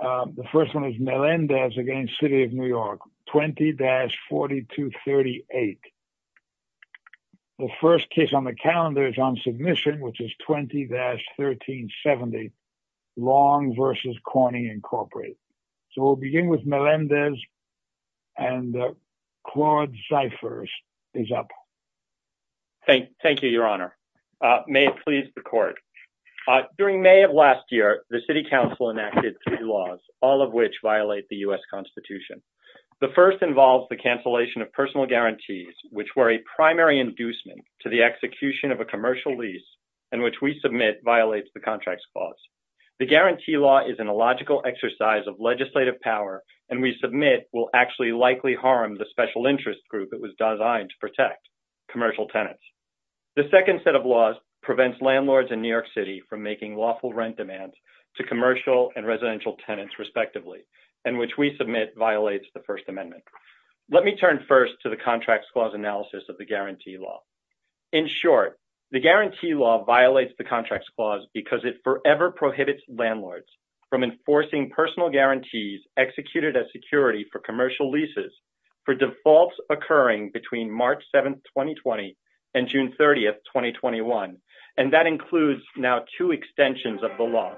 The first one is Melendez v. City of New York, 20-4238. The first case on the calendar is on submission, which is 20-1370, Long v. Corning, Incorporated. So we'll begin with Melendez, and Claude Zyphers is up. Thank you, Your Honor. May it please the Court. During May of last year, the City Council enacted three laws, all of which violate the U.S. Constitution. The first involves the cancellation of personal guarantees, which were a primary inducement to the execution of a commercial lease, and which we submit violates the Contracts Clause. The guarantee law is an illogical exercise of legislative power, and we submit will actually likely harm the special interest group it was designed to protect, commercial tenants. The second set of laws prevents landlords in New York City from making lawful rent demands to commercial and residential tenants, respectively, and which we submit violates the First Amendment. Let me turn first to the Contracts Clause analysis of the guarantee law. In short, the guarantee law violates the Contracts Clause because it forever prohibits landlords from enforcing personal guarantees executed as security for commercial leases for defaults occurring between March 7, 2020, and June 30, 2021, and that includes now two extensions of the law.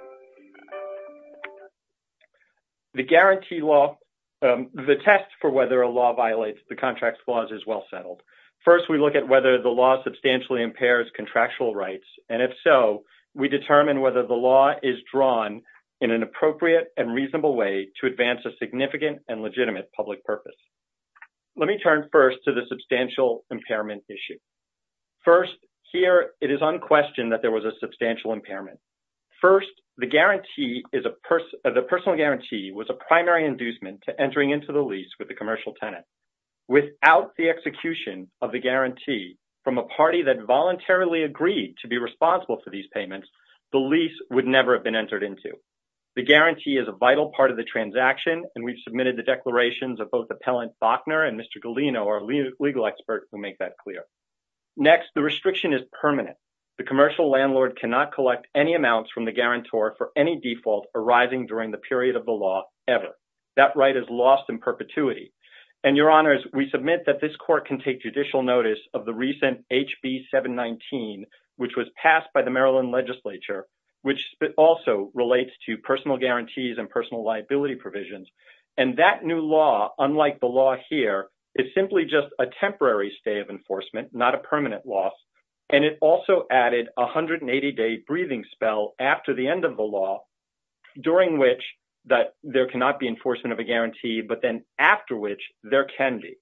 The guarantee law, the test for whether a law violates the Contracts Clause is well settled. First, we look at whether the law substantially impairs contractual rights, and if so, we determine whether the law is drawn in an appropriate and reasonable way to advance a significant and legitimate public purpose. Let me turn first to the substantial impairment issue. First, here it is unquestioned that there was a substantial impairment. First, the personal guarantee was a primary inducement to entering into the lease with the commercial tenant. Without the execution of the guarantee from a party that voluntarily agreed to be responsible for these payments, the lease would never have been entered into. The guarantee is a vital part of the transaction, and we've submitted the declarations of both Appellant Faulkner and Mr. Galino, our legal experts, who make that clear. Next, the restriction is permanent. The commercial landlord cannot collect any amounts from the guarantor for any default arising during the period of the law ever. That right is lost in perpetuity. And, Your Honors, we submit that this Court can take judicial notice of the recent HB 719, which was passed by the Maryland Legislature, which also relates to personal guarantees and personal liability provisions. And that new law, unlike the law here, is simply just a temporary stay of enforcement, not a permanent loss. And it also added a 180-day breathing spell after the end of the law, during which there cannot be enforcement of a guarantee, but then after which there can be.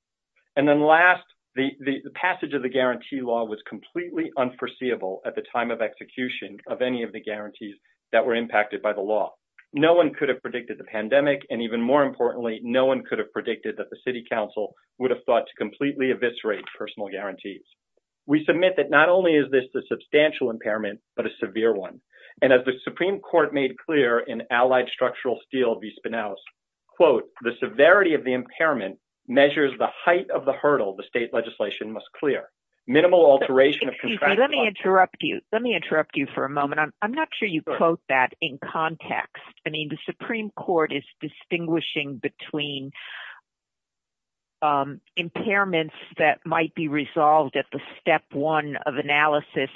And then last, the passage of the guarantee law was completely unforeseeable at the time of execution of any of the guarantees that were impacted by the law. No one could have predicted the pandemic, and even more importantly, no one could have predicted that the City Council would have thought to completely eviscerate personal guarantees. We submit that not only is this a substantial impairment, but a severe one. And as the Supreme Court made clear in Allied Structural Steel v. Spinoz, quote, the severity of the impairment measures the height of the hurdle the state legislation must clear. Minimal alteration of contractual... Excuse me, let me interrupt you. Let me interrupt you for a moment. I'm not sure you quote that in context. I mean, the Supreme Court is distinguishing between impairments that might be resolved at the step one of analysis,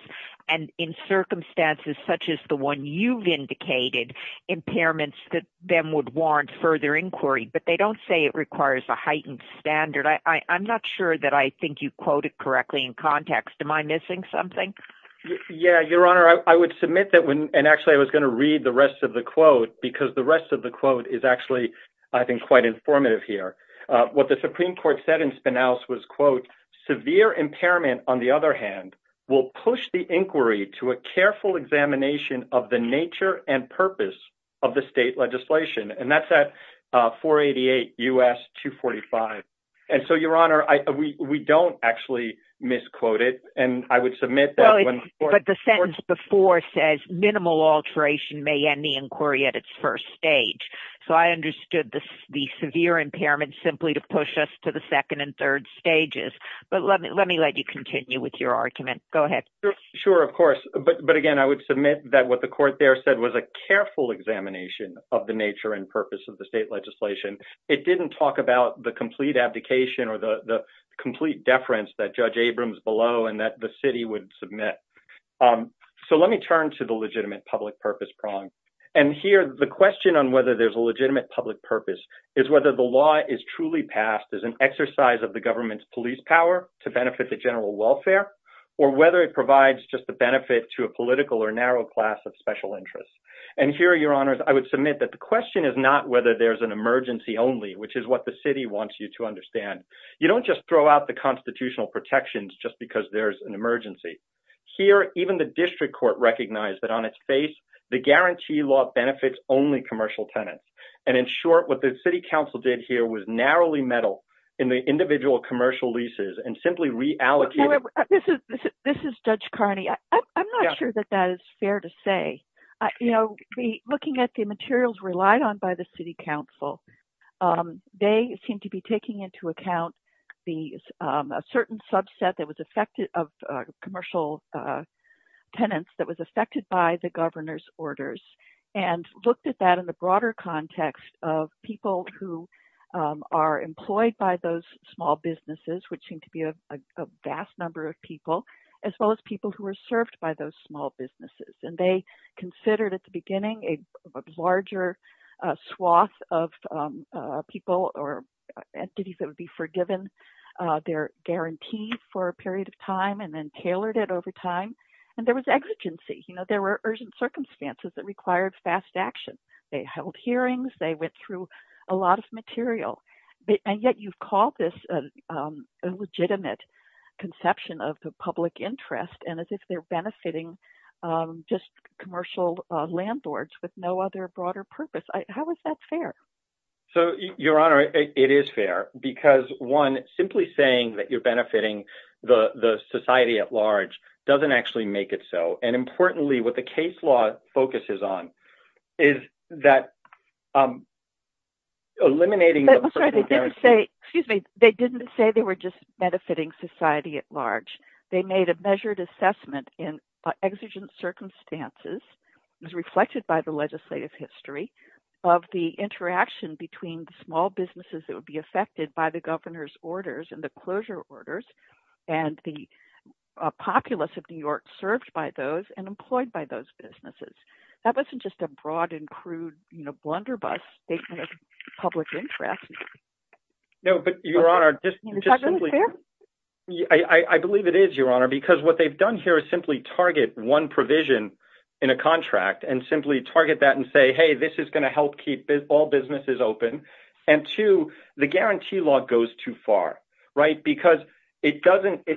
and in circumstances such as the one you've indicated, impairments that then would warrant further inquiry, but they don't say it requires a heightened standard. I'm not sure that I think you quoted correctly in context. Am I missing something? Yeah, Your Honor, I would submit that, and actually I was going to read the rest of the quote, because the rest of the quote is actually, I think, quite informative here. What the Supreme Court said in Spinoz was, quote, severe impairment, on the other hand, will push the inquiry to a careful examination of the nature and purpose of the state legislation. And that's at 488 U.S. 245. And so, Your Honor, we don't actually misquote it, and I would submit that... As before says, minimal alteration may end the inquiry at its first stage. So I understood the severe impairment simply to push us to the second and third stages. But let me let you continue with your argument. Go ahead. Sure, of course. But again, I would submit that what the court there said was a careful examination of the nature and purpose of the state legislation. It didn't talk about the complete abdication or the complete deference that Judge Abrams below and that the city would submit. So let me turn to the legitimate public purpose prong. And here, the question on whether there's a legitimate public purpose is whether the law is truly passed as an exercise of the government's police power to benefit the general welfare, or whether it provides just the benefit to a political or narrow class of special interests. And here, Your Honors, I would submit that the question is not whether there's an emergency only, which is what the city wants you to understand. You don't just throw out the constitutional protections just because there's an emergency. Here, even the district court recognized that on its face, the guarantee law benefits only commercial tenants. And in short, what the city council did here was narrowly meddle in the individual commercial leases and simply reallocated... Looking at the materials relied on by the city council, they seem to be taking into account a certain subset of commercial tenants that was affected by the governor's orders and looked at that in the broader context of people who are employed by those small businesses, which seem to be a vast number of people, as well as people who are served by those small businesses. And they considered at the beginning a larger swath of people or entities that would be forgiven their guarantee for a period of time and then tailored it over time. And there was exigency. There were urgent circumstances that required fast action. They held hearings. They went through a lot of material. And yet you've called this a legitimate conception of the public interest and as if they're benefiting just commercial landlords with no other broader purpose. How is that fair? So, Your Honor, it is fair because one, simply saying that you're benefiting the society at large doesn't actually make it so. And importantly, what the case law focuses on is that eliminating... They didn't say they were just benefiting society at large. They made a measured assessment in exigent circumstances as reflected by the legislative history of the interaction between small businesses that would be affected by the governor's orders and the closure orders and the populace of New York served by those and employed by those businesses. That wasn't just a broad and crude blunderbuss statement of public interest. No, but Your Honor, just simply... Is that really fair? I believe it is, Your Honor, because what they've done here is simply target one provision in a contract and simply target that and say, hey, this is going to help keep all businesses open. And two, the guarantee law goes too far, right? Because it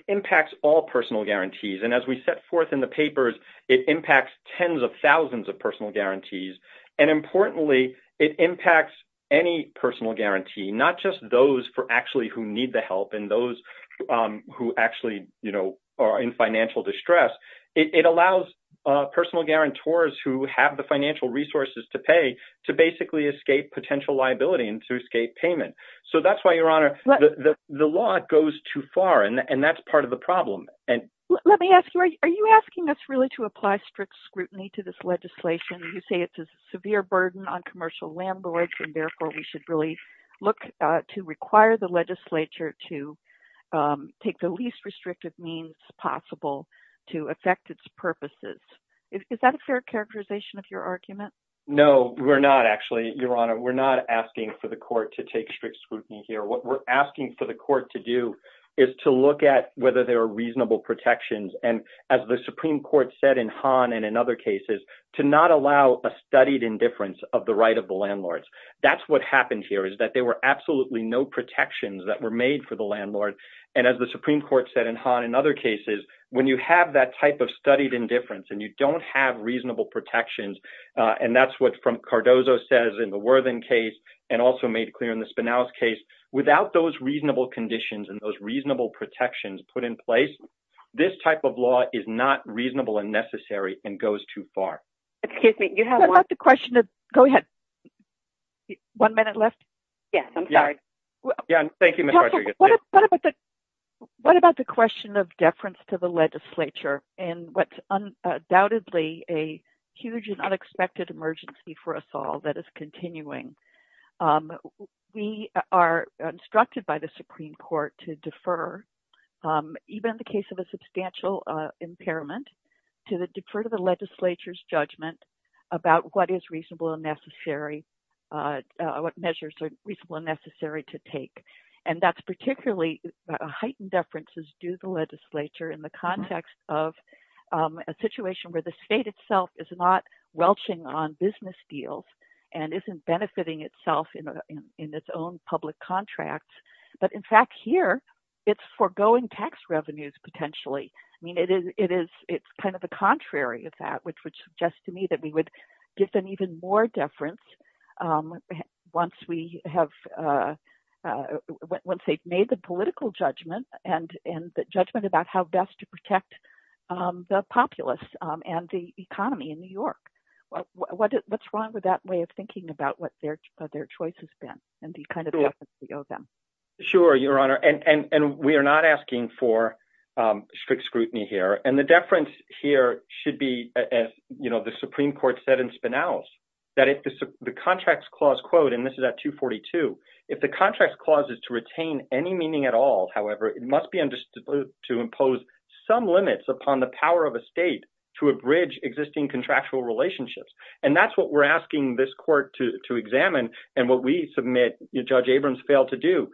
impacts all personal guarantees. And as we set forth in the papers, it impacts tens of thousands of personal guarantees. And importantly, it impacts any personal guarantee, not just those for actually who need the help and those who actually are in financial distress. It allows personal guarantors who have the financial resources to pay to basically escape potential liability and to escape payment. So that's why, Your Honor, the law goes too far. And that's part of the problem. Let me ask you, are you asking us really to apply strict scrutiny to this legislation? You say it's a severe burden on commercial landlords and therefore we should really look to require the legislature to take the least restrictive means possible to affect its purposes. Is that a fair characterization of your argument? No, we're not actually, Your Honor. We're not asking for the court to take strict scrutiny here. What we're asking for the court to do is to look at whether there are reasonable protections. And as the Supreme Court said in Hahn and in other cases, to not allow a studied indifference of the right of the landlords. That's what happened here is that there were absolutely no protections that were made for the landlord. And as the Supreme Court said in Hahn and other cases, when you have that type of studied indifference and you don't have reasonable protections, and that's what Cardozo says in the Worthen case and also made clear in the Spanau's case, without those reasonable conditions and those reasonable protections put in place, this type of law is not reasonable and necessary and goes too far. Excuse me, you have one... Go ahead. One minute left? Yes, I'm sorry. Thank you, Ms. Rodriguez. What about the question of deference to the legislature and what's undoubtedly a huge and unexpected emergency for us all that is continuing? We are instructed by the Supreme Court to defer, even in the case of a substantial impairment, to defer to the legislature's judgment about what is reasonable and necessary, what measures are reasonable and necessary to take. And that's particularly a heightened deference due to the legislature in the context of a situation where the state itself is not welching on business deals and isn't benefiting itself in its own public contracts. But in fact, here, it's foregoing tax revenues, potentially. I mean, it's kind of the contrary of that, which would suggest to me that we would give them even more deference once they've made the political judgment and the judgment about how best to protect the populace and the economy in New York. What's wrong with that way of thinking about what their choice has been and the kind of deference we owe them? Sure, Your Honor. And we are not asking for strict scrutiny here. And the deference here should be, as the Supreme Court said in Spinaus, that if the Contracts Clause, quote, and this is at 242, if the Contracts Clause is to retain any meaning at all, however, it must be understood to impose some limits upon the power of a state to abridge existing contractual relationships. And that's what we're asking this court to examine and what we submit Judge Abrams failed to do.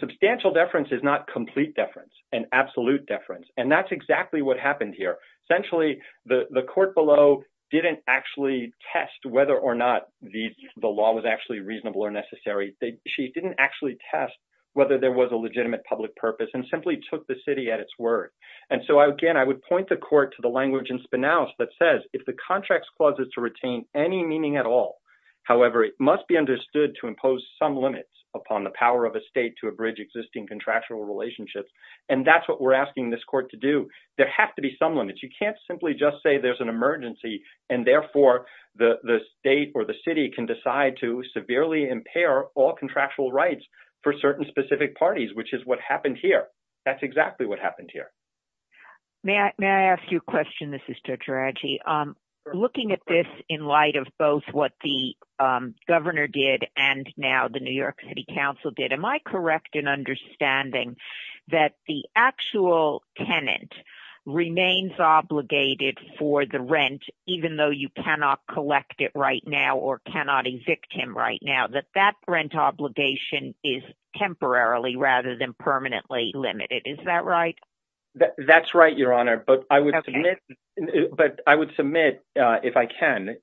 Substantial deference is not complete deference, an absolute deference. And that's exactly what happened here. Essentially, the court below didn't actually test whether or not the law was actually reasonable or necessary. She didn't actually test whether there was a legitimate public purpose and simply took the city at its word. And so, again, I would point the court to the language in Spinaus that says if the Contracts Clause is to retain any meaning at all, however, it must be understood to impose some limits upon the power of a state to abridge existing contractual relationships. And that's what we're asking this court to do. There have to be some limits. You can't simply just say there's an emergency and therefore the state or the city can decide to severely impair all contractual rights for certain specific parties, which is what happened here. That's exactly what happened here. May I ask you a question? This is Judge Raji. Looking at this in light of both what the governor did and now the New York City Council did, am I correct in understanding that the actual tenant remains obligated for the rent, even though you cannot collect it right now or cannot evict him right now, that that rent obligation is temporarily rather than permanently limited? Is that right? That's right, Your Honor. But I would submit, if I can,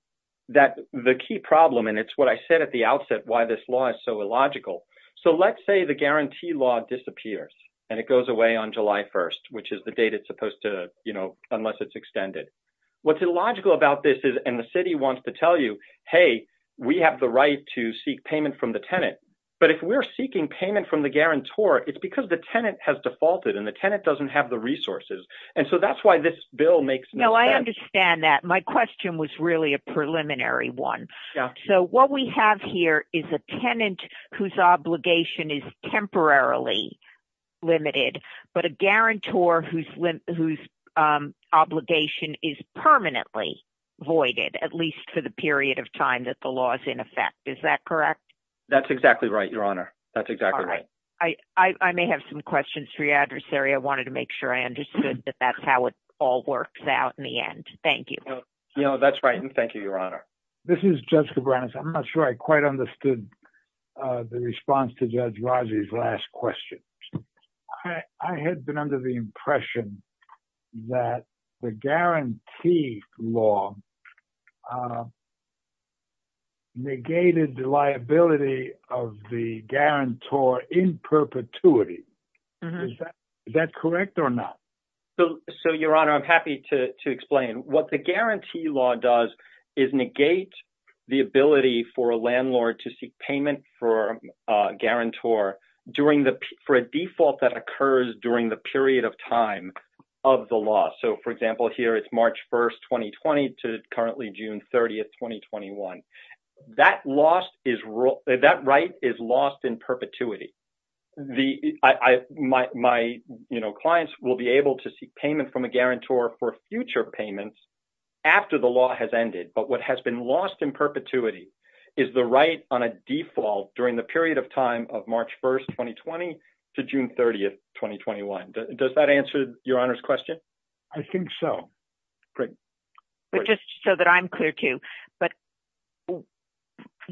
that the key problem, and it's what I said at the outset, why this law is so illogical. So let's say the guarantee law disappears and it goes away on July 1st, which is the date it's supposed to, you know, unless it's extended. What's illogical about this is, and the city wants to tell you, hey, we have the right to seek payment from the tenant. But if we're seeking payment from the guarantor, it's because the tenant has defaulted and the tenant doesn't have the resources. And so that's why this bill makes no sense. No, I understand that. My question was really a preliminary one. So what we have here is a tenant whose obligation is temporarily limited, but a guarantor whose obligation is permanently voided, at least for the period of time that the law is in effect. Is that correct? That's exactly right, Your Honor. That's exactly right. I may have some questions for you, Adversary. I wanted to make sure I understood that that's how it all works out in the end. Thank you. No, that's right. And thank you, Your Honor. This is Judge Cabranes. I'm not sure I quite understood the response to Judge Razi's last question. I had been under the impression that the guarantee law negated the liability of the guarantor in perpetuity. Is that correct or not? So, Your Honor, I'm happy to explain. What the guarantee law does is negate the ability for a landlord to seek payment for a guarantor for a default that occurs during the period of time of the law. So, for example, here it's March 1, 2020 to currently June 30, 2021. That right is lost in perpetuity. My clients will be able to seek payment from a guarantor for future payments after the law has ended. But what has been lost in perpetuity is the right on a default during the period of time of March 1, 2020 to June 30, 2021. Does that answer Your Honor's question? I think so. But just so that I'm clear too,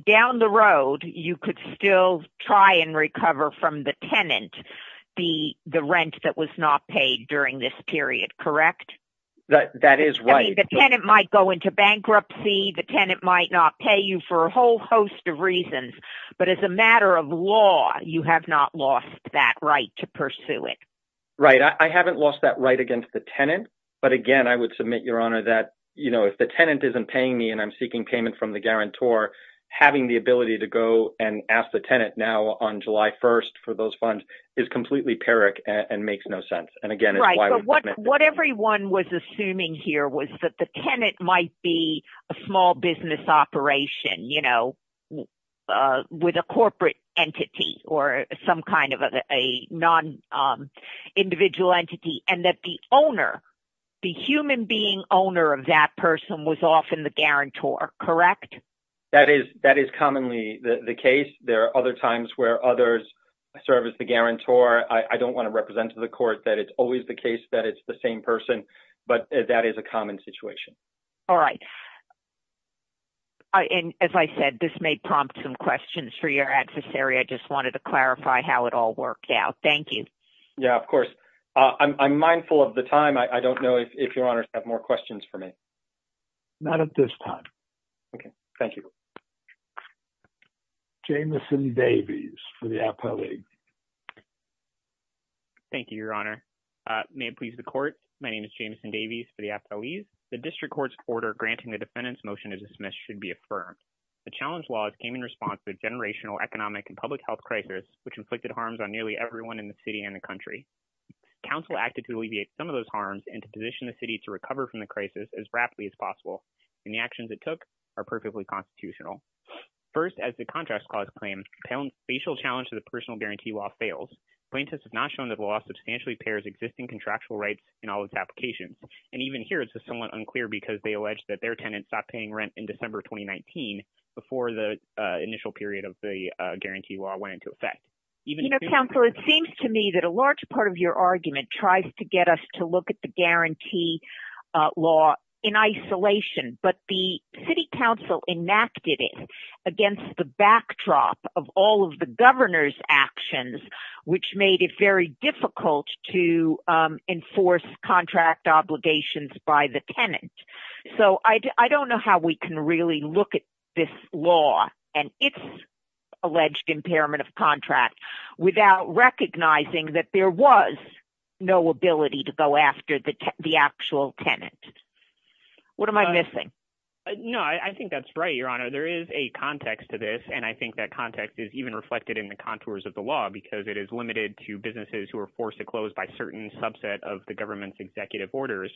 down the road, you could still try and recover from the tenant the rent that was not paid during this period, correct? That is right. The tenant might go into bankruptcy. The tenant might not pay you for a whole host of reasons. But as a matter of law, you have not lost that right to pursue it. Right. I haven't lost that right against the tenant. But again, I would submit, Your Honor, that if the tenant isn't paying me and I'm seeking payment from the guarantor, having the ability to go and ask the tenant now on July 1st for those funds is completely pyrrhic and makes no sense. Right. But what everyone was assuming here was that the tenant might be a small business operation, you know, with a corporate entity or some kind of a non-individual entity and that the owner, the human being owner of that person was often the guarantor, correct? That is commonly the case. There are other times where others serve as the guarantor. I don't want to represent to the court that it's always the case that it's the same person, but that is a common situation. All right. And as I said, this may prompt some questions for your adversary. I just wanted to clarify how it all worked out. Thank you. Yeah, of course. I'm mindful of the time. I don't know if Your Honor has more questions for me. Not at this time. Thank you. Jameson Davies for the appellee. Thank you, Your Honor. May it please the court. My name is Jameson Davies for the appellee. The district court's order granting the defendant's motion to dismiss should be affirmed. The challenge law came in response to the generational economic and public health crisis, which inflicted harms on nearly everyone in the city and the country. Council acted to alleviate some of those harms and to position the city to recover from the crisis as rapidly as possible, and the actions it took are perfectly constitutional. First, as the contract clause claims, facial challenge to the personal guarantee law fails. Plaintiffs have not shown that the law substantially pairs existing contractual rights in all its applications. And even here, it's somewhat unclear because they allege that their tenants stopped paying rent in December 2019 before the initial period of the guarantee law went into effect. You know, counsel, it seems to me that a large part of your argument tries to get us to look at the guarantee law in isolation. But the city council enacted it against the backdrop of all of the governor's actions, which made it very difficult to enforce contract obligations by the tenant. So I don't know how we can really look at this law and its alleged impairment of contract without recognizing that there was no ability to go after the actual tenant. What am I missing? I think that's right, Your Honor. There is a context to this, and I think that context is even reflected in the contours of the law because it is limited to businesses who are forced to close by certain subset of the government's executive orders.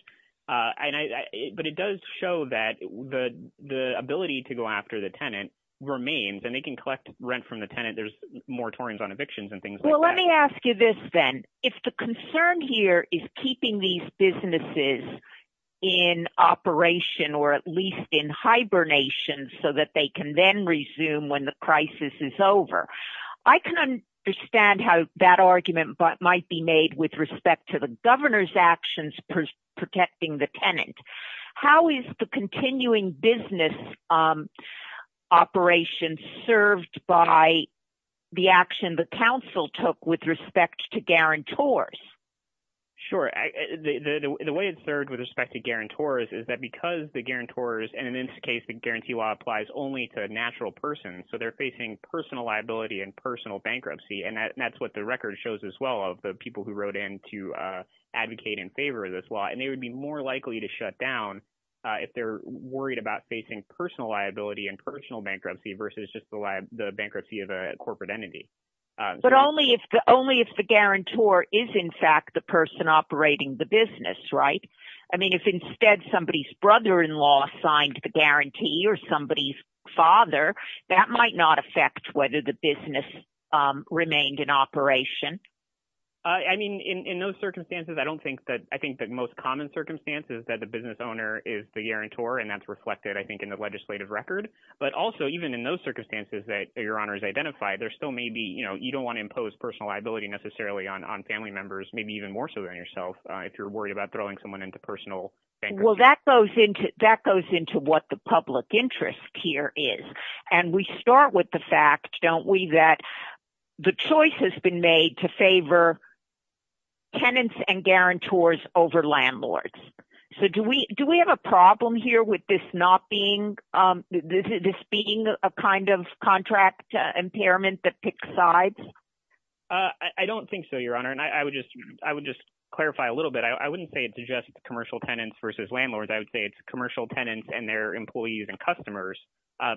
But it does show that the ability to go after the tenant remains, and they can collect rent from the tenant. There's moratoriums on evictions and things like that. Well, let me ask you this then. If the concern here is keeping these businesses in operation or at least in hibernation so that they can then resume when the crisis is over. I can understand how that argument might be made with respect to the governor's actions protecting the tenant. How is the continuing business operation served by the action the council took with respect to guarantors? Sure. The way it's served with respect to guarantors is that because the guarantors – and in this case, the guarantee law applies only to natural persons. So they're facing personal liability and personal bankruptcy, and that's what the record shows as well of the people who wrote in to advocate in favor of this law. And they would be more likely to shut down if they're worried about facing personal liability and personal bankruptcy versus just the bankruptcy of a corporate entity. But only if the guarantor is in fact the person operating the business, right? I mean, if instead somebody's brother-in-law signed the guarantee or somebody's father, that might not affect whether the business remained in operation. I mean, in those circumstances, I don't think that – I think the most common circumstance is that the business owner is the guarantor, and that's reflected, I think, in the legislative record. But also, even in those circumstances that your honors identified, there still may be – you don't want to impose personal liability necessarily on family members, maybe even more so than yourself if you're worried about throwing someone into personal bankruptcy. Well, that goes into what the public interest here is, and we start with the fact, don't we, that the choice has been made to favor tenants and guarantors over landlords. So do we have a problem here with this not being – this being a kind of contract impairment that picks sides? I don't think so, Your Honor, and I would just clarify a little bit. I wouldn't say it's just commercial tenants versus landlords. I would say it's commercial tenants and their employees and customers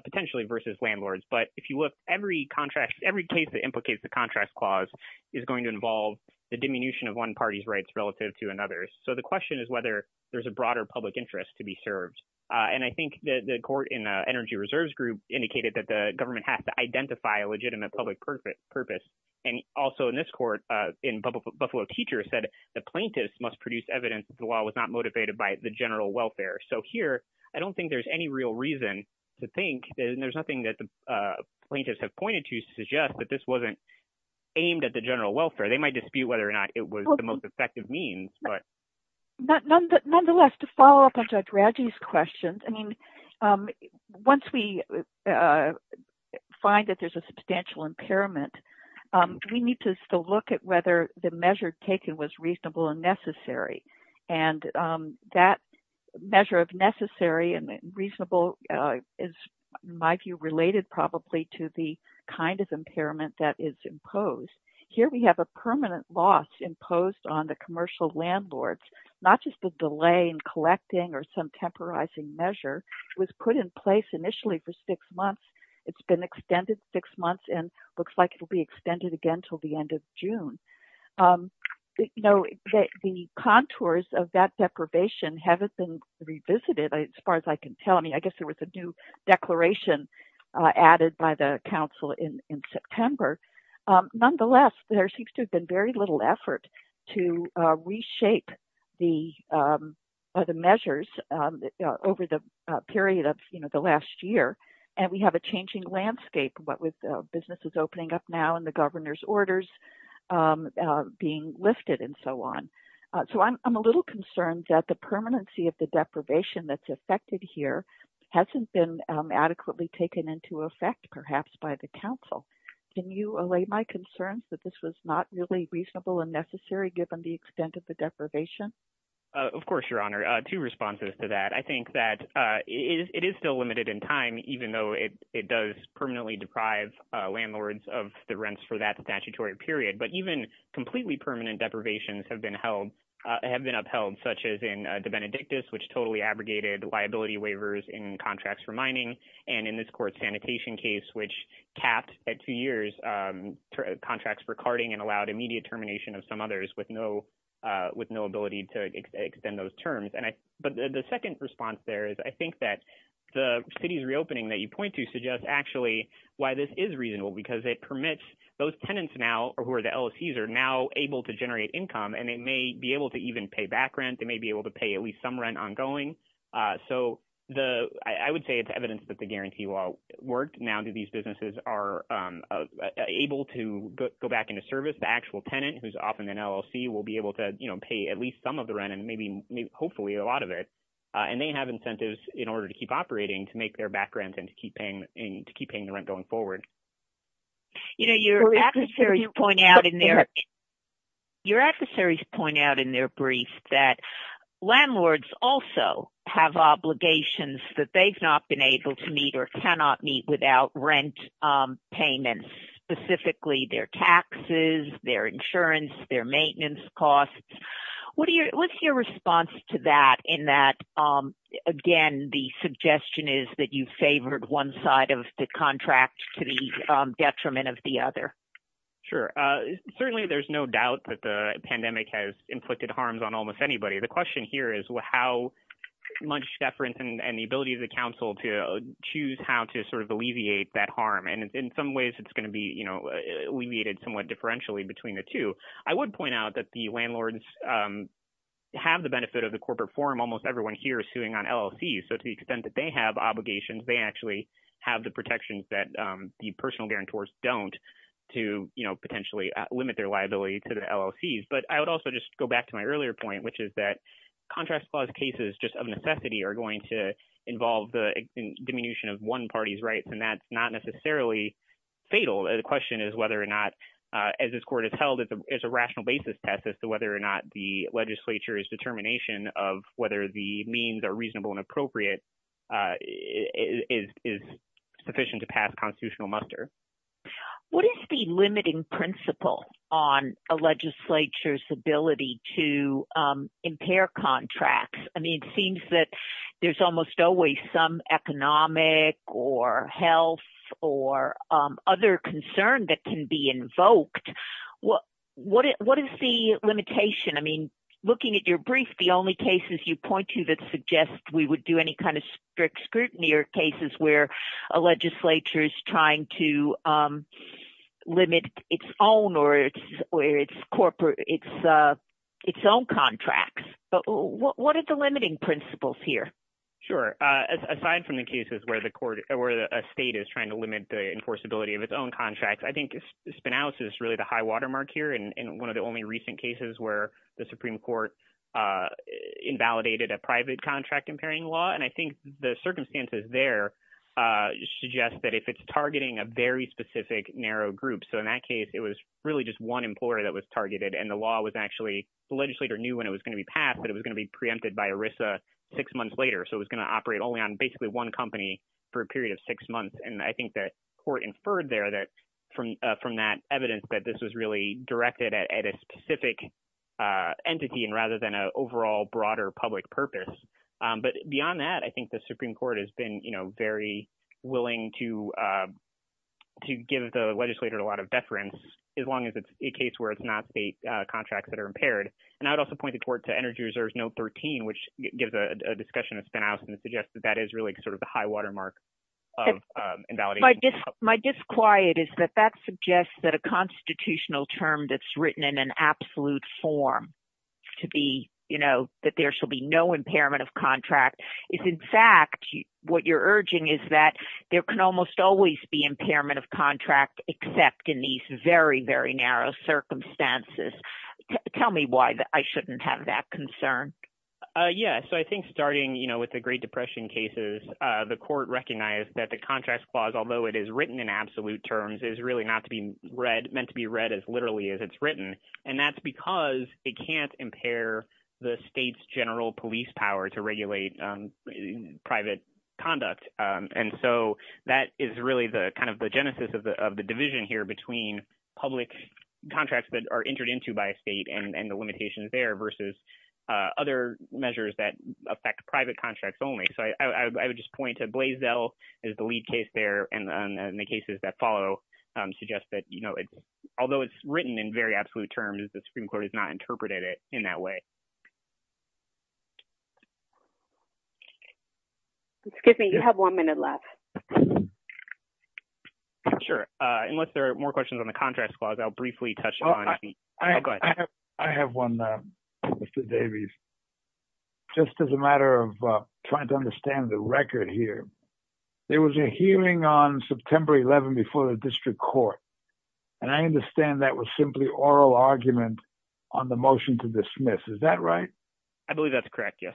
potentially versus landlords. But if you look, every contract – every case that implicates the contract clause is going to involve the diminution of one party's rights relative to another's. So the question is whether there's a broader public interest to be served. And I think the court in Energy Reserves Group indicated that the government has to identify a legitimate public purpose. And also in this court, in Buffalo Teacher said the plaintiff must produce evidence that the law was not motivated by the general welfare. So here I don't think there's any real reason to think – and there's nothing that the plaintiffs have pointed to to suggest that this wasn't aimed at the general welfare. They might dispute whether or not it was the most effective means, but – Nonetheless, to follow up on Judge Radji's questions, I mean, once we find that there's a substantial impairment, we need to still look at whether the measure taken was reasonable and necessary. And that measure of necessary and reasonable is, in my view, related probably to the kind of impairment that is imposed. Here we have a permanent loss imposed on the commercial landlords. Not just the delay in collecting or some temporizing measure. It was put in place initially for six months. It's been extended six months and looks like it will be extended again until the end of June. The contours of that deprivation haven't been revisited as far as I can tell. I mean, I guess there was a new declaration added by the council in September. Nonetheless, there seems to have been very little effort to reshape the measures over the period of the last year. And we have a changing landscape with businesses opening up now and the governor's orders being lifted and so on. So I'm a little concerned that the permanency of the deprivation that's affected here hasn't been adequately taken into effect perhaps by the council. Can you allay my concerns that this was not really reasonable and necessary given the extent of the deprivation? Of course, Your Honor. Two responses to that. I think that it is still limited in time, even though it does permanently deprive landlords of the rents for that statutory period. But even completely permanent deprivations have been upheld, such as in the Benedictus, which totally abrogated liability waivers in contracts for mining. And in this court sanitation case, which capped at two years contracts for carting and allowed immediate termination of some others with no ability to extend those terms. But the second response there is I think that the city's reopening that you point to suggests actually why this is reasonable, because it permits those tenants now who are the LLCs are now able to generate income and they may be able to even pay back rent. They may be able to pay at least some rent ongoing. So I would say it's evidence that the guarantee law worked. Now these businesses are able to go back into service. The actual tenant who's often an LLC will be able to pay at least some of the rent and maybe hopefully a lot of it. And they have incentives in order to keep operating to make their back rent and to keep paying the rent going forward. Your adversaries point out in their brief that landlords also have obligations that they've not been able to meet or cannot meet without rent payments, specifically their taxes, their insurance, their maintenance costs. What's your response to that in that, again, the suggestion is that you favored one side of the contract to the detriment of the other? Sure. Certainly there's no doubt that the pandemic has inflicted harms on almost anybody. The question here is how much deference and the ability of the council to choose how to sort of alleviate that harm. And in some ways it's going to be alleviated somewhat differentially between the two. So I would point out that the landlords have the benefit of the corporate forum. Almost everyone here is suing on LLCs. So to the extent that they have obligations, they actually have the protections that the personal guarantors don't to potentially limit their liability to the LLCs. But I would also just go back to my earlier point, which is that contract clause cases just of necessity are going to involve the diminution of one party's rights. And that's not necessarily fatal. The question is whether or not, as this court has held, is a rational basis test as to whether or not the legislature's determination of whether the means are reasonable and appropriate is sufficient to pass constitutional muster. What is the limiting principle on a legislature's ability to impair contracts? I mean, it seems that there's almost always some economic or health or other concern that can be invoked. What is the limitation? I mean, looking at your brief, the only cases you point to that suggest we would do any kind of strict scrutiny are cases where a legislature is trying to limit its own or its own contracts. But what are the limiting principles here? Sure. Aside from the cases where a state is trying to limit the enforceability of its own contracts, I think spinouts is really the high watermark here. And one of the only recent cases where the Supreme Court invalidated a private contract impairing law. And I think the circumstances there suggest that if it's targeting a very specific narrow group. So in that case, it was really just one employer that was targeted and the law was actually the legislator knew when it was going to be passed that it was going to be preempted by ERISA six months later. So it was going to operate only on basically one company for a period of six months. And I think that court inferred there that from from that evidence that this was really directed at a specific entity and rather than an overall broader public purpose. But beyond that, I think the Supreme Court has been very willing to to give the legislator a lot of deference, as long as it's a case where it's not state contracts that are impaired. And I would also point the court to Energy Reserve's Note 13, which gives a discussion of spinouts and suggests that that is really sort of the high watermark of invalidation. My disquiet is that that suggests that a constitutional term that's written in an absolute form to be, you know, that there shall be no impairment of contract is, in fact, what you're urging is that there can almost always be impairment of contract, except in these very, very narrow circumstances. Tell me why I shouldn't have that concern. Yeah. So I think starting, you know, with the Great Depression cases, the court recognized that the contract clause, although it is written in absolute terms, is really not to be read meant to be read as literally as it's written. And that's because it can't impair the state's general police power to regulate private conduct. And so that is really the kind of the genesis of the division here between public contracts that are entered into by a state and the limitations there versus other measures that affect private contracts only. So I would just point to Blaisdell as the lead case there and the cases that follow suggest that, you know, although it's written in very absolute terms, the Supreme Court has not interpreted it in that way. Excuse me, you have one minute left. Sure. Unless there are more questions on the contract clause, I'll briefly touch on. I have one. Mr. Davies. Just as a matter of trying to understand the record here, there was a hearing on September 11 before the district court. And I understand that was simply oral argument on the motion to dismiss. Is that right? I believe that's correct. Yes.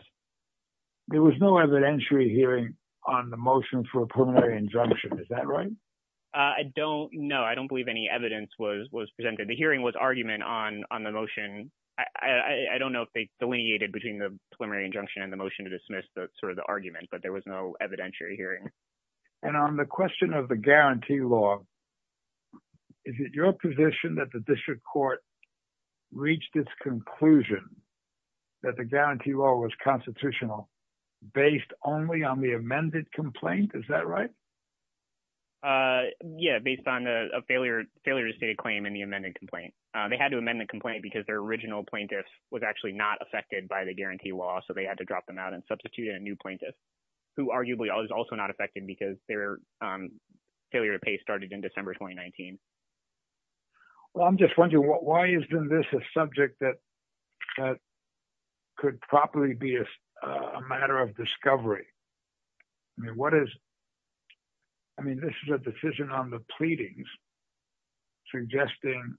There was no evidentiary hearing on the motion for a preliminary injunction. Is that right? I don't know. I don't believe any evidence was presented. The hearing was argument on the motion. I don't know if they delineated between the preliminary injunction and the motion to dismiss the sort of the argument, but there was no evidentiary hearing. And on the question of the guarantee law, is it your position that the district court reached its conclusion that the guarantee law was constitutional based only on the amended complaint? Is that right? Yeah, based on a failure to state a claim in the amended complaint. They had to amend the complaint because their original plaintiff was actually not affected by the guarantee law. So they had to drop them out and substitute a new plaintiff who arguably is also not affected because their failure to pay started in December 2019. Well, I'm just wondering why isn't this a subject that could probably be a matter of discovery? I mean, this is a decision on the pleadings suggesting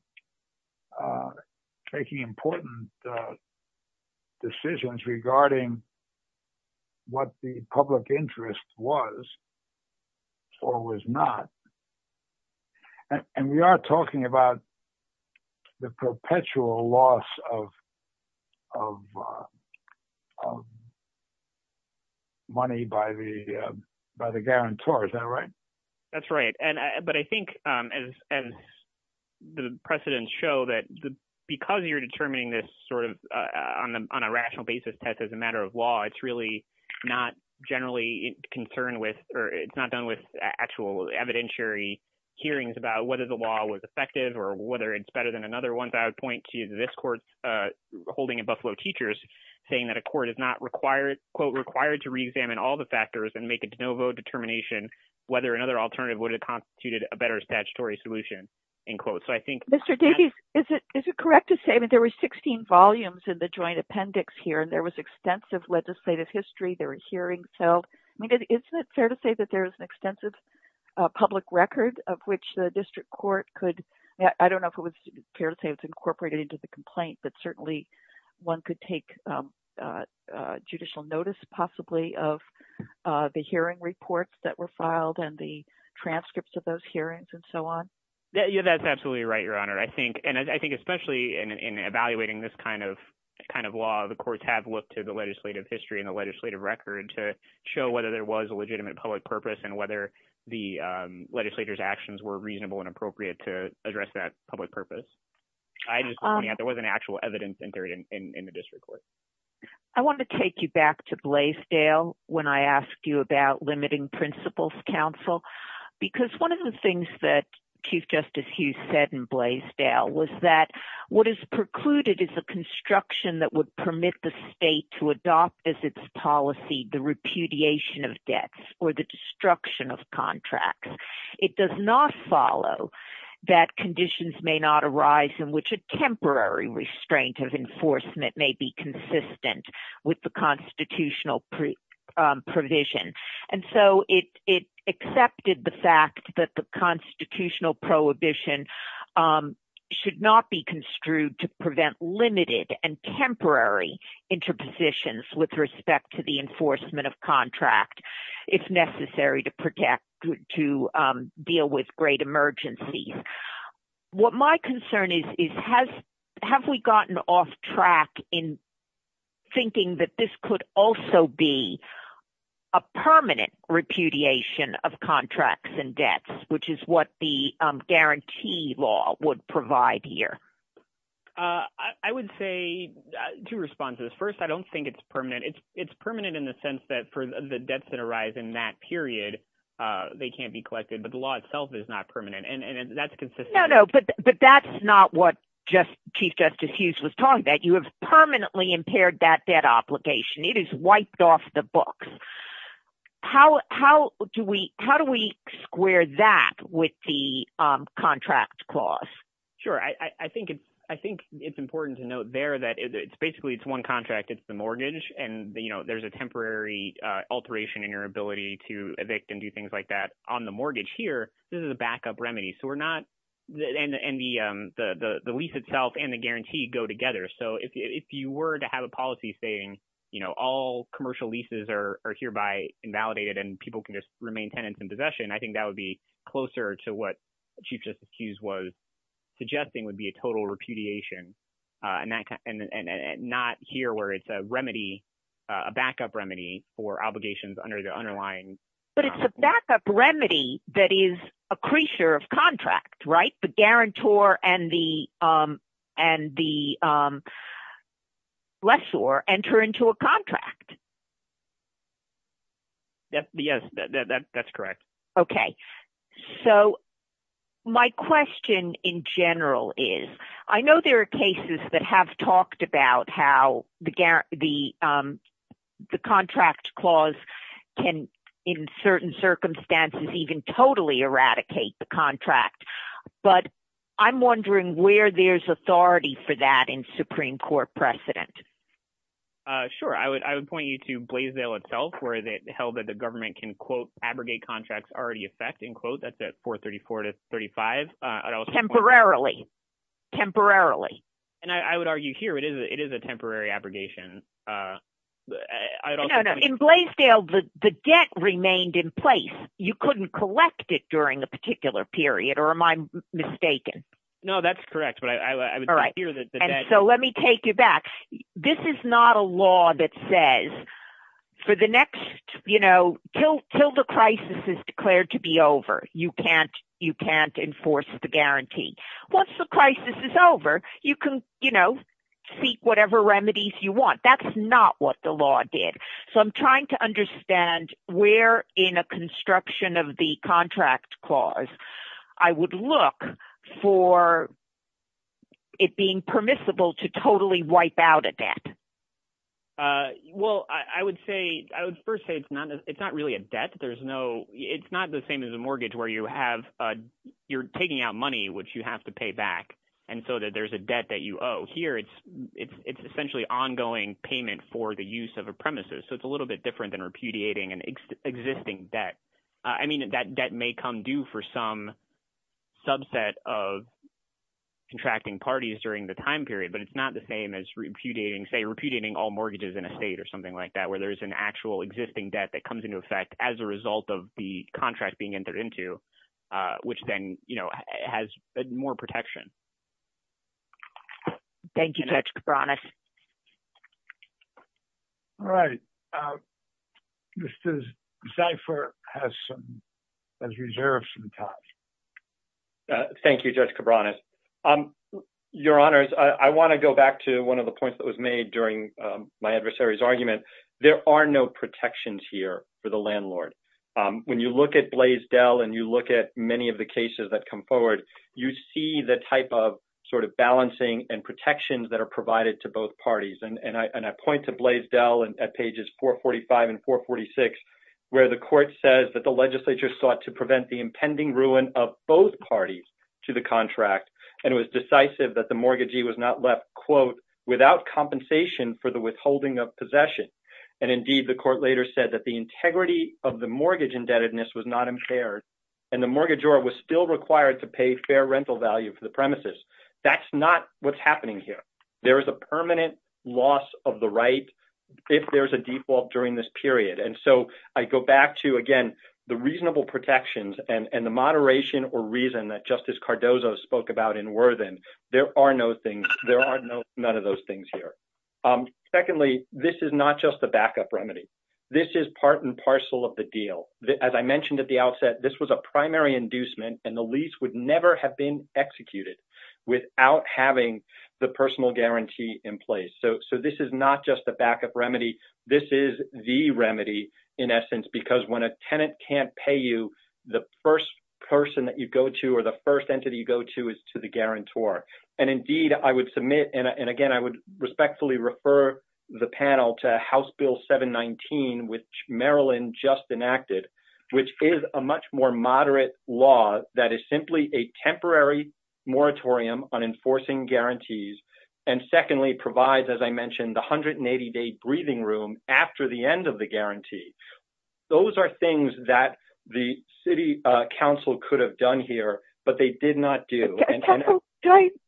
taking important decisions regarding what the public interest was or was not. And we are talking about the perpetual loss of money by the by the guarantor. Is that right? That's right. And but I think as the precedents show that because you're determining this sort of on a rational basis test as a matter of law, it's really not generally concerned with or it's not done with actual evidentiary hearings about whether the law was effective or whether it's better than another one. I would point to this court's holding in Buffalo Teachers saying that a court is not required, quote, required to reexamine all the factors and make a de novo determination whether another alternative would have constituted a better statutory solution in quotes. So I think Mr. Davies, is it is it correct to say that there were 16 volumes in the joint appendix here and there was extensive legislative history? There were hearings held. I mean, isn't it fair to say that there is an extensive public record of which the district court could? I don't know if it was fair to say it's incorporated into the complaint, but certainly one could take judicial notice possibly of the hearing reports that were filed and the transcripts of those hearings and so on. That's absolutely right, Your Honor. I think and I think especially in evaluating this kind of kind of law, the courts have looked to the legislative history and the legislative record to show whether there was a legitimate public purpose and whether the legislators actions were reasonable and appropriate to address that public purpose. There wasn't actual evidence in the district court. I want to take you back to Blaisdell when I asked you about limiting principles counsel, because one of the things that Chief Justice Hughes said in Blaisdell was that what is precluded is a construction that would permit the state to adopt as its policy the repudiation of debts or the destruction of contracts. It does not follow that conditions may not arise in which a temporary restraint of enforcement may be consistent with the constitutional provision. And so it accepted the fact that the constitutional prohibition should not be construed to prevent limited and temporary interpositions with respect to the enforcement of contract, if necessary, to protect to deal with great emergencies. What my concern is, is has have we gotten off track in thinking that this could also be a permanent repudiation of contracts and debts, which is what the guarantee law would provide here? I would say two responses. First, I don't think it's permanent. It's permanent in the sense that for the debts that arise in that period, they can't be collected, but the law itself is not permanent, and that's consistent. No, no, but that's not what Chief Justice Hughes was talking about. You have permanently impaired that debt obligation. It is wiped off the books. How do we square that with the contract clause? Sure. I think it's important to note there that it's basically it's one contract. It's the mortgage, and there's a temporary alteration in your ability to evict and do things like that on the mortgage here. This is a backup remedy, and the lease itself and the guarantee go together. So if you were to have a policy saying all commercial leases are hereby invalidated and people can just remain tenants in possession, I think that would be closer to what Chief Justice Hughes was suggesting would be a total repudiation and not here where it's a remedy, a backup remedy for obligations under the underlying contract. That is a creature of contract. The guarantor and the lessor enter into a contract. Yes, that's correct. Okay, so my question in general is I know there are cases that have talked about how the contract clause can, in certain circumstances, even totally eradicate the contract, but I'm wondering where there's authority for that in Supreme Court precedent. Sure. I would point you to Blaisdell itself where it held that the government can, quote, abrogate contracts already effect, end quote. That's at 434-35. Temporarily. Temporarily. And I would argue here it is a temporary abrogation. No, no. In Blaisdell, the debt remained in place. You couldn't collect it during a particular period, or am I mistaken? No, that's correct, but I would say here that the debt… This is not a law that says for the next, you know, till the crisis is declared to be over, you can't enforce the guarantee. Once the crisis is over, you can, you know, seek whatever remedies you want. That's not what the law did. So I'm trying to understand where in a construction of the contract clause I would look for it being permissible to totally wipe out a debt. Well, I would say – I would first say it's not really a debt. There's no – it's not the same as a mortgage where you have – you're taking out money, which you have to pay back, and so there's a debt that you owe. Here it's essentially ongoing payment for the use of a premises, so it's a little bit different than repudiating an existing debt. I mean that debt may come due for some subset of contracting parties during the time period, but it's not the same as repudiating, say, repudiating all mortgages in a state or something like that where there's an actual existing debt that comes into effect as a result of the contract being entered into, which then has more protection. Thank you, Judge Cabranes. All right. Mr. Zeifer has some – has reserved some time. Thank you, Judge Cabranes. Your Honors, I want to go back to one of the points that was made during my adversary's argument. There are no protections here for the landlord. When you look at Blaisdell and you look at many of the cases that come forward, you see the type of sort of balancing and protections that are provided to both parties. And I point to Blaisdell at pages 445 and 446 where the court says that the legislature sought to prevent the impending ruin of both parties to the contract, and it was decisive that the mortgagee was not left, quote, without compensation for the withholding of possession. And, indeed, the court later said that the integrity of the mortgage indebtedness was not impaired and the mortgagor was still required to pay fair rental value for the premises. That's not what's happening here. There is a permanent loss of the right if there's a default during this period. And so I go back to, again, the reasonable protections and the moderation or reason that Justice Cardozo spoke about in Worthen. There are no things – there are no – none of those things here. Secondly, this is not just a backup remedy. This is part and parcel of the deal. As I mentioned at the outset, this was a primary inducement, and the lease would never have been executed without having the personal guarantee in place. So this is not just a backup remedy. This is the remedy, in essence, because when a tenant can't pay you, the first person that you go to or the first entity you go to is to the guarantor. And, indeed, I would submit – and, again, I would respectfully refer the panel to House Bill 719, which Marilyn just enacted, which is a much more moderate law that is simply a temporary moratorium on enforcing guarantees and, secondly, provides, as I mentioned, the 180-day breathing room after the end of the guarantee. Those are things that the city council could have done here, but they did not do. Can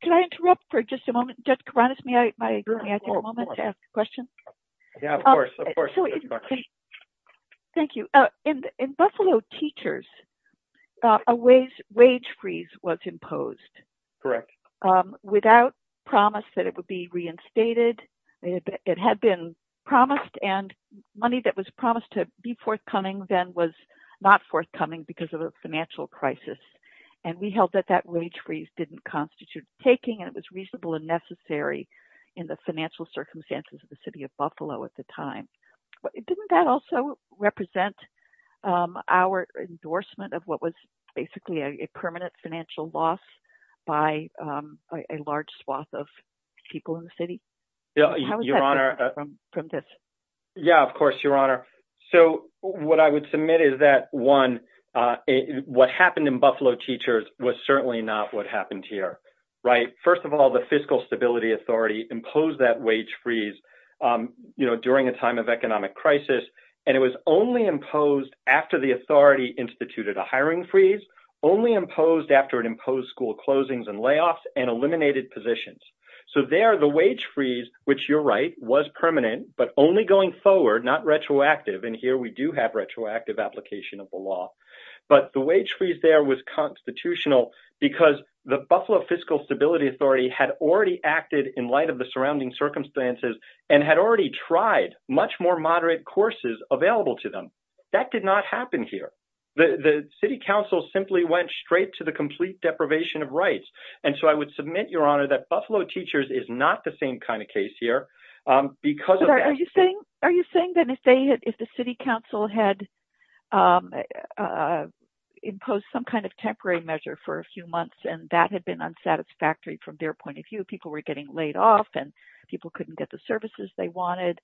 I interrupt for just a moment, Judge Kouranis? May I have a moment to ask a question? Yeah, of course. Thank you. In Buffalo Teachers, a wage freeze was imposed. Correct. Without promise that it would be reinstated. It had been promised, and money that was promised to be forthcoming then was not forthcoming because of a financial crisis. And we held that that wage freeze didn't constitute taking, and it was reasonable and necessary in the financial circumstances of the city of Buffalo at the time. Didn't that also represent our endorsement of what was basically a permanent financial loss by a large swath of people in the city? Your Honor – How does that differ from this? Yeah, of course, Your Honor. So what I would submit is that, one, what happened in Buffalo Teachers was certainly not what happened here, right? First of all, the Fiscal Stability Authority imposed that wage freeze during a time of economic crisis, and it was only imposed after the authority instituted a hiring freeze, only imposed after it imposed school closings and layoffs, and eliminated positions. So there, the wage freeze, which you're right, was permanent, but only going forward, not retroactive. And here we do have retroactive application of the law. But the wage freeze there was constitutional because the Buffalo Fiscal Stability Authority had already acted in light of the surrounding circumstances and had already tried much more moderate courses available to them. That did not happen here. The city council simply went straight to the complete deprivation of rights. And so I would submit, Your Honor, that Buffalo Teachers is not the same kind of case here. Are you saying that if the city council had imposed some kind of temporary measure for a few months and that had been unsatisfactory from their point of view, people were getting laid off and people couldn't get the services they wanted,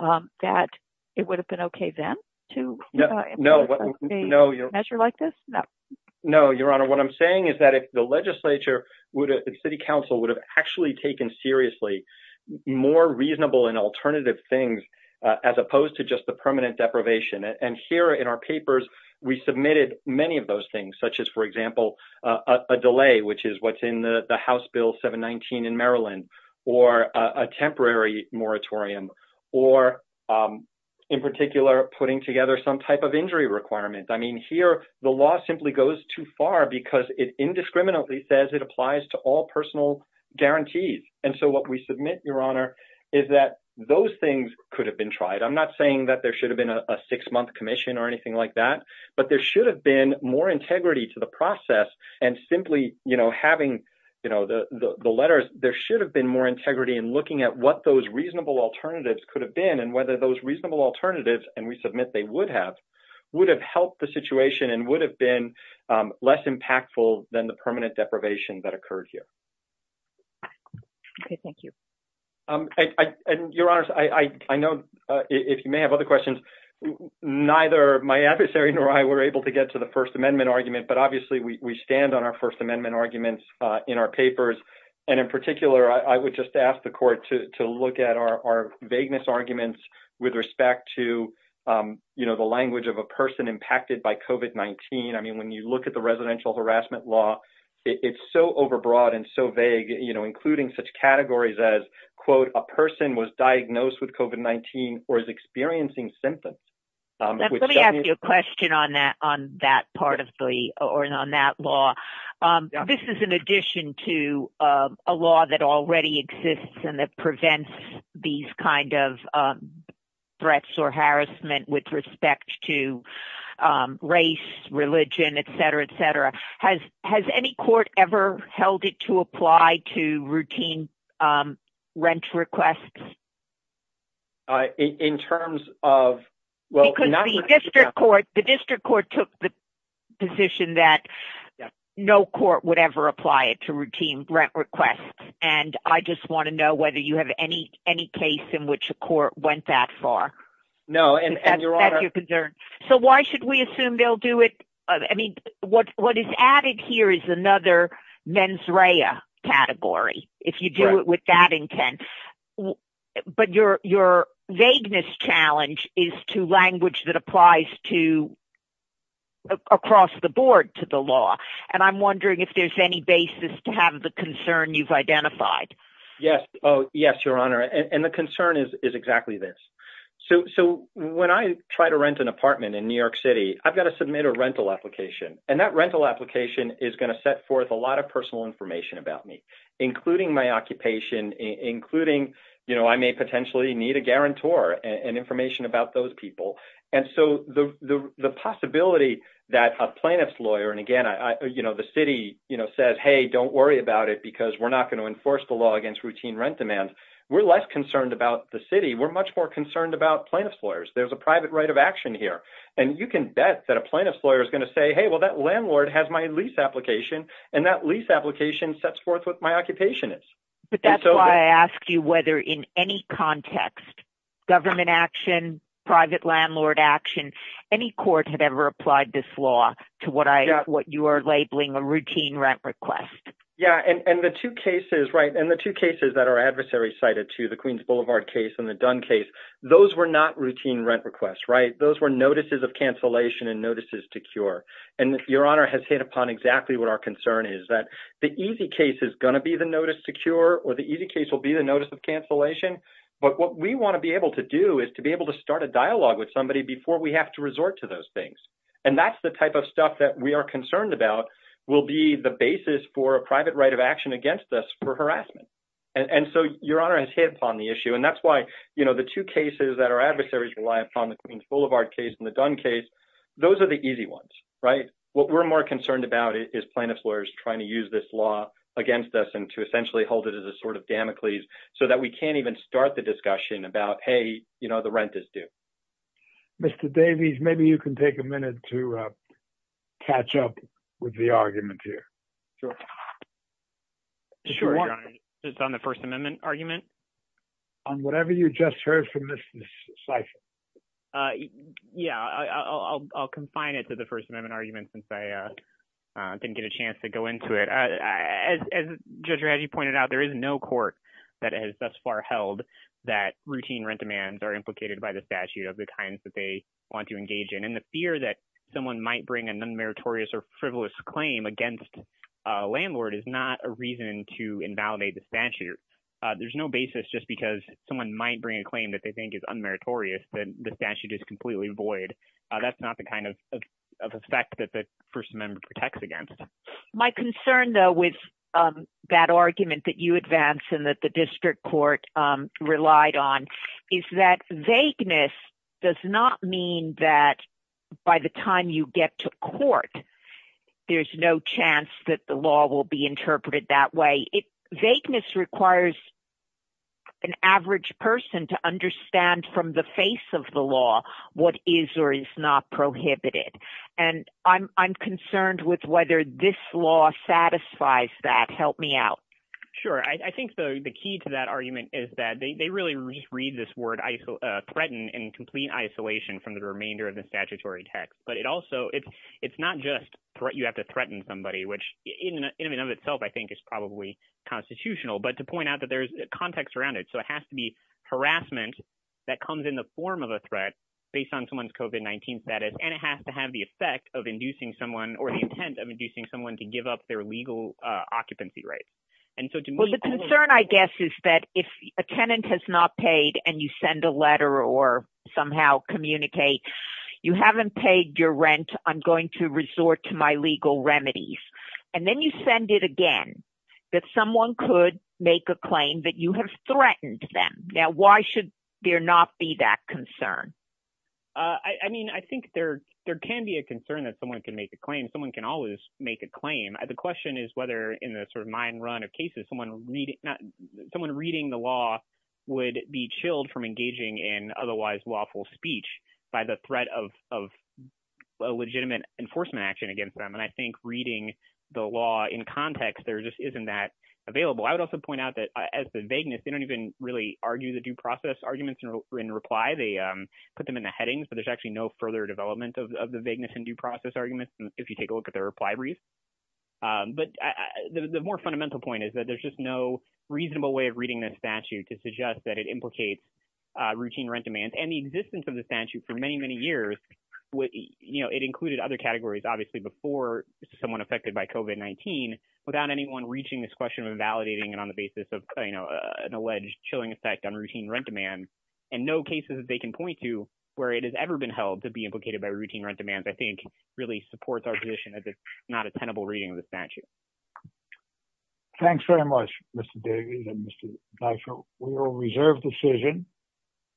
that it would have been okay then to impose a measure like this? No, Your Honor. What I'm saying is that if the legislature, the city council would have actually taken seriously more reasonable and alternative things as opposed to just the permanent deprivation. And here in our papers, we submitted many of those things, such as, for example, a delay, which is what's in the House Bill 719 in Maryland, or a temporary moratorium, or in particular, putting together some type of injury requirement. I mean, here the law simply goes too far because it indiscriminately says it applies to all personal guarantees. And so what we submit, Your Honor, is that those things could have been tried. I'm not saying that there should have been a six-month commission or anything like that. But there should have been more integrity to the process. And simply having the letters, there should have been more integrity in looking at what those reasonable alternatives could have been and whether those reasonable alternatives, and we submit they would have, would have helped the situation and would have been less impactful than the permanent deprivation that occurred here. Okay, thank you. And Your Honors, I know if you may have other questions, neither my adversary nor I were able to get to the First Amendment argument. But obviously, we stand on our First Amendment arguments in our papers. And in particular, I would just ask the court to look at our vagueness arguments with respect to, you know, the language of a person impacted by COVID-19. I mean, when you look at the residential harassment law, it's so overbroad and so vague, you know, including such categories as, quote, a person was diagnosed with COVID-19 or is experiencing symptoms. Let me ask you a question on that part of the, or on that law. This is in addition to a law that already exists and that prevents these kind of threats or harassment with respect to race, religion, et cetera, et cetera. Has any court ever held it to apply to routine rent requests? In terms of – Because the district court took the position that no court would ever apply it to routine rent requests. And I just want to know whether you have any case in which a court went that far. No, and Your Honor – So why should we assume they'll do it – I mean, what is added here is another mens rea category. If you do it with that intent. But your vagueness challenge is to language that applies to across the board to the law. And I'm wondering if there's any basis to have the concern you've identified. Yes. Oh, yes, Your Honor. And the concern is exactly this. So when I try to rent an apartment in New York City, I've got to submit a rental application. And that rental application is going to set forth a lot of personal information about me, including my occupation, including I may potentially need a guarantor and information about those people. And so the possibility that a plaintiff's lawyer – and again, the city says, hey, don't worry about it because we're not going to enforce the law against routine rent demand. In New York City, we're much more concerned about plaintiff's lawyers. There's a private right of action here. And you can bet that a plaintiff's lawyer is going to say, hey, well, that landlord has my lease application, and that lease application sets forth what my occupation is. But that's why I ask you whether in any context, government action, private landlord action, any court had ever applied this law to what you are labeling a routine rent request. Yeah, and the two cases, right, and the two cases that are adversary cited to the Queens Boulevard case and the Dunn case, those were not routine rent requests, right? Those were notices of cancellation and notices to cure. And Your Honor has hit upon exactly what our concern is, that the easy case is going to be the notice to cure or the easy case will be the notice of cancellation. But what we want to be able to do is to be able to start a dialogue with somebody before we have to resort to those things. And that's the type of stuff that we are concerned about will be the basis for a private right of action against us for harassment. And so Your Honor has hit upon the issue. And that's why, you know, the two cases that are adversaries rely upon, the Queens Boulevard case and the Dunn case, those are the easy ones, right? What we're more concerned about is plaintiff's lawyers trying to use this law against us and to essentially hold it as a sort of Damocles so that we can't even start the discussion about, hey, you know, the rent is due. Mr. Davies, maybe you can take a minute to catch up with the argument here. Sure. Sure, Your Honor. It's on the First Amendment argument? On whatever you just heard from Ms. Seifert. Yeah, I'll confine it to the First Amendment argument since I didn't get a chance to go into it. As Judge Rahagi pointed out, there is no court that has thus far held that routine rent demands are implicated by the statute of the kinds that they want to engage in. And the fear that someone might bring an unmeritorious or frivolous claim against a landlord is not a reason to invalidate the statute. There's no basis just because someone might bring a claim that they think is unmeritorious that the statute is completely void. That's not the kind of effect that the First Amendment protects against. My concern, though, with that argument that you advance and that the district court relied on is that vagueness does not mean that by the time you get to court, there's no chance that the law will be interpreted that way. Vagueness requires an average person to understand from the face of the law what is or is not prohibited. And I'm concerned with whether this law satisfies that. Help me out. Sure. I think the key to that argument is that they really read this word threatened in complete isolation from the remainder of the statutory text. But it also it's it's not just what you have to threaten somebody, which in and of itself, I think, is probably constitutional. But to point out that there's context around it. So it has to be harassment that comes in the form of a threat based on someone's covid-19 status. And it has to have the effect of inducing someone or the intent of inducing someone to give up their legal occupancy rights. And so the concern, I guess, is that if a tenant has not paid and you send a letter or somehow communicate you haven't paid your rent, I'm going to resort to my legal remedies. And then you send it again that someone could make a claim that you have threatened them. Now, why should there not be that concern? I mean, I think there there can be a concern that someone can make a claim. Someone can always make a claim. The question is whether in the sort of mind run of cases, someone read someone reading the law would be chilled from engaging in otherwise lawful speech by the threat of of legitimate enforcement action against them. And I think reading the law in context, there just isn't that available. I would also point out that as the vagueness, they don't even really argue the due process arguments in reply. They put them in the headings, but there's actually no further development of the vagueness and due process arguments. If you take a look at their reply brief. But the more fundamental point is that there's just no reasonable way of reading this statute to suggest that it implicates routine rent demands and the existence of the statute for many, many years. It included other categories, obviously, before someone affected by COVID-19 without anyone reaching this question and validating it on the basis of an alleged chilling effect on routine rent demand. And no cases that they can point to where it has ever been held to be implicated by routine rent demands, I think, really supports our position as it's not a tenable reading of the statute. Thanks very much, Mr. Davies and Mr. Deitchel. We will reserve decision.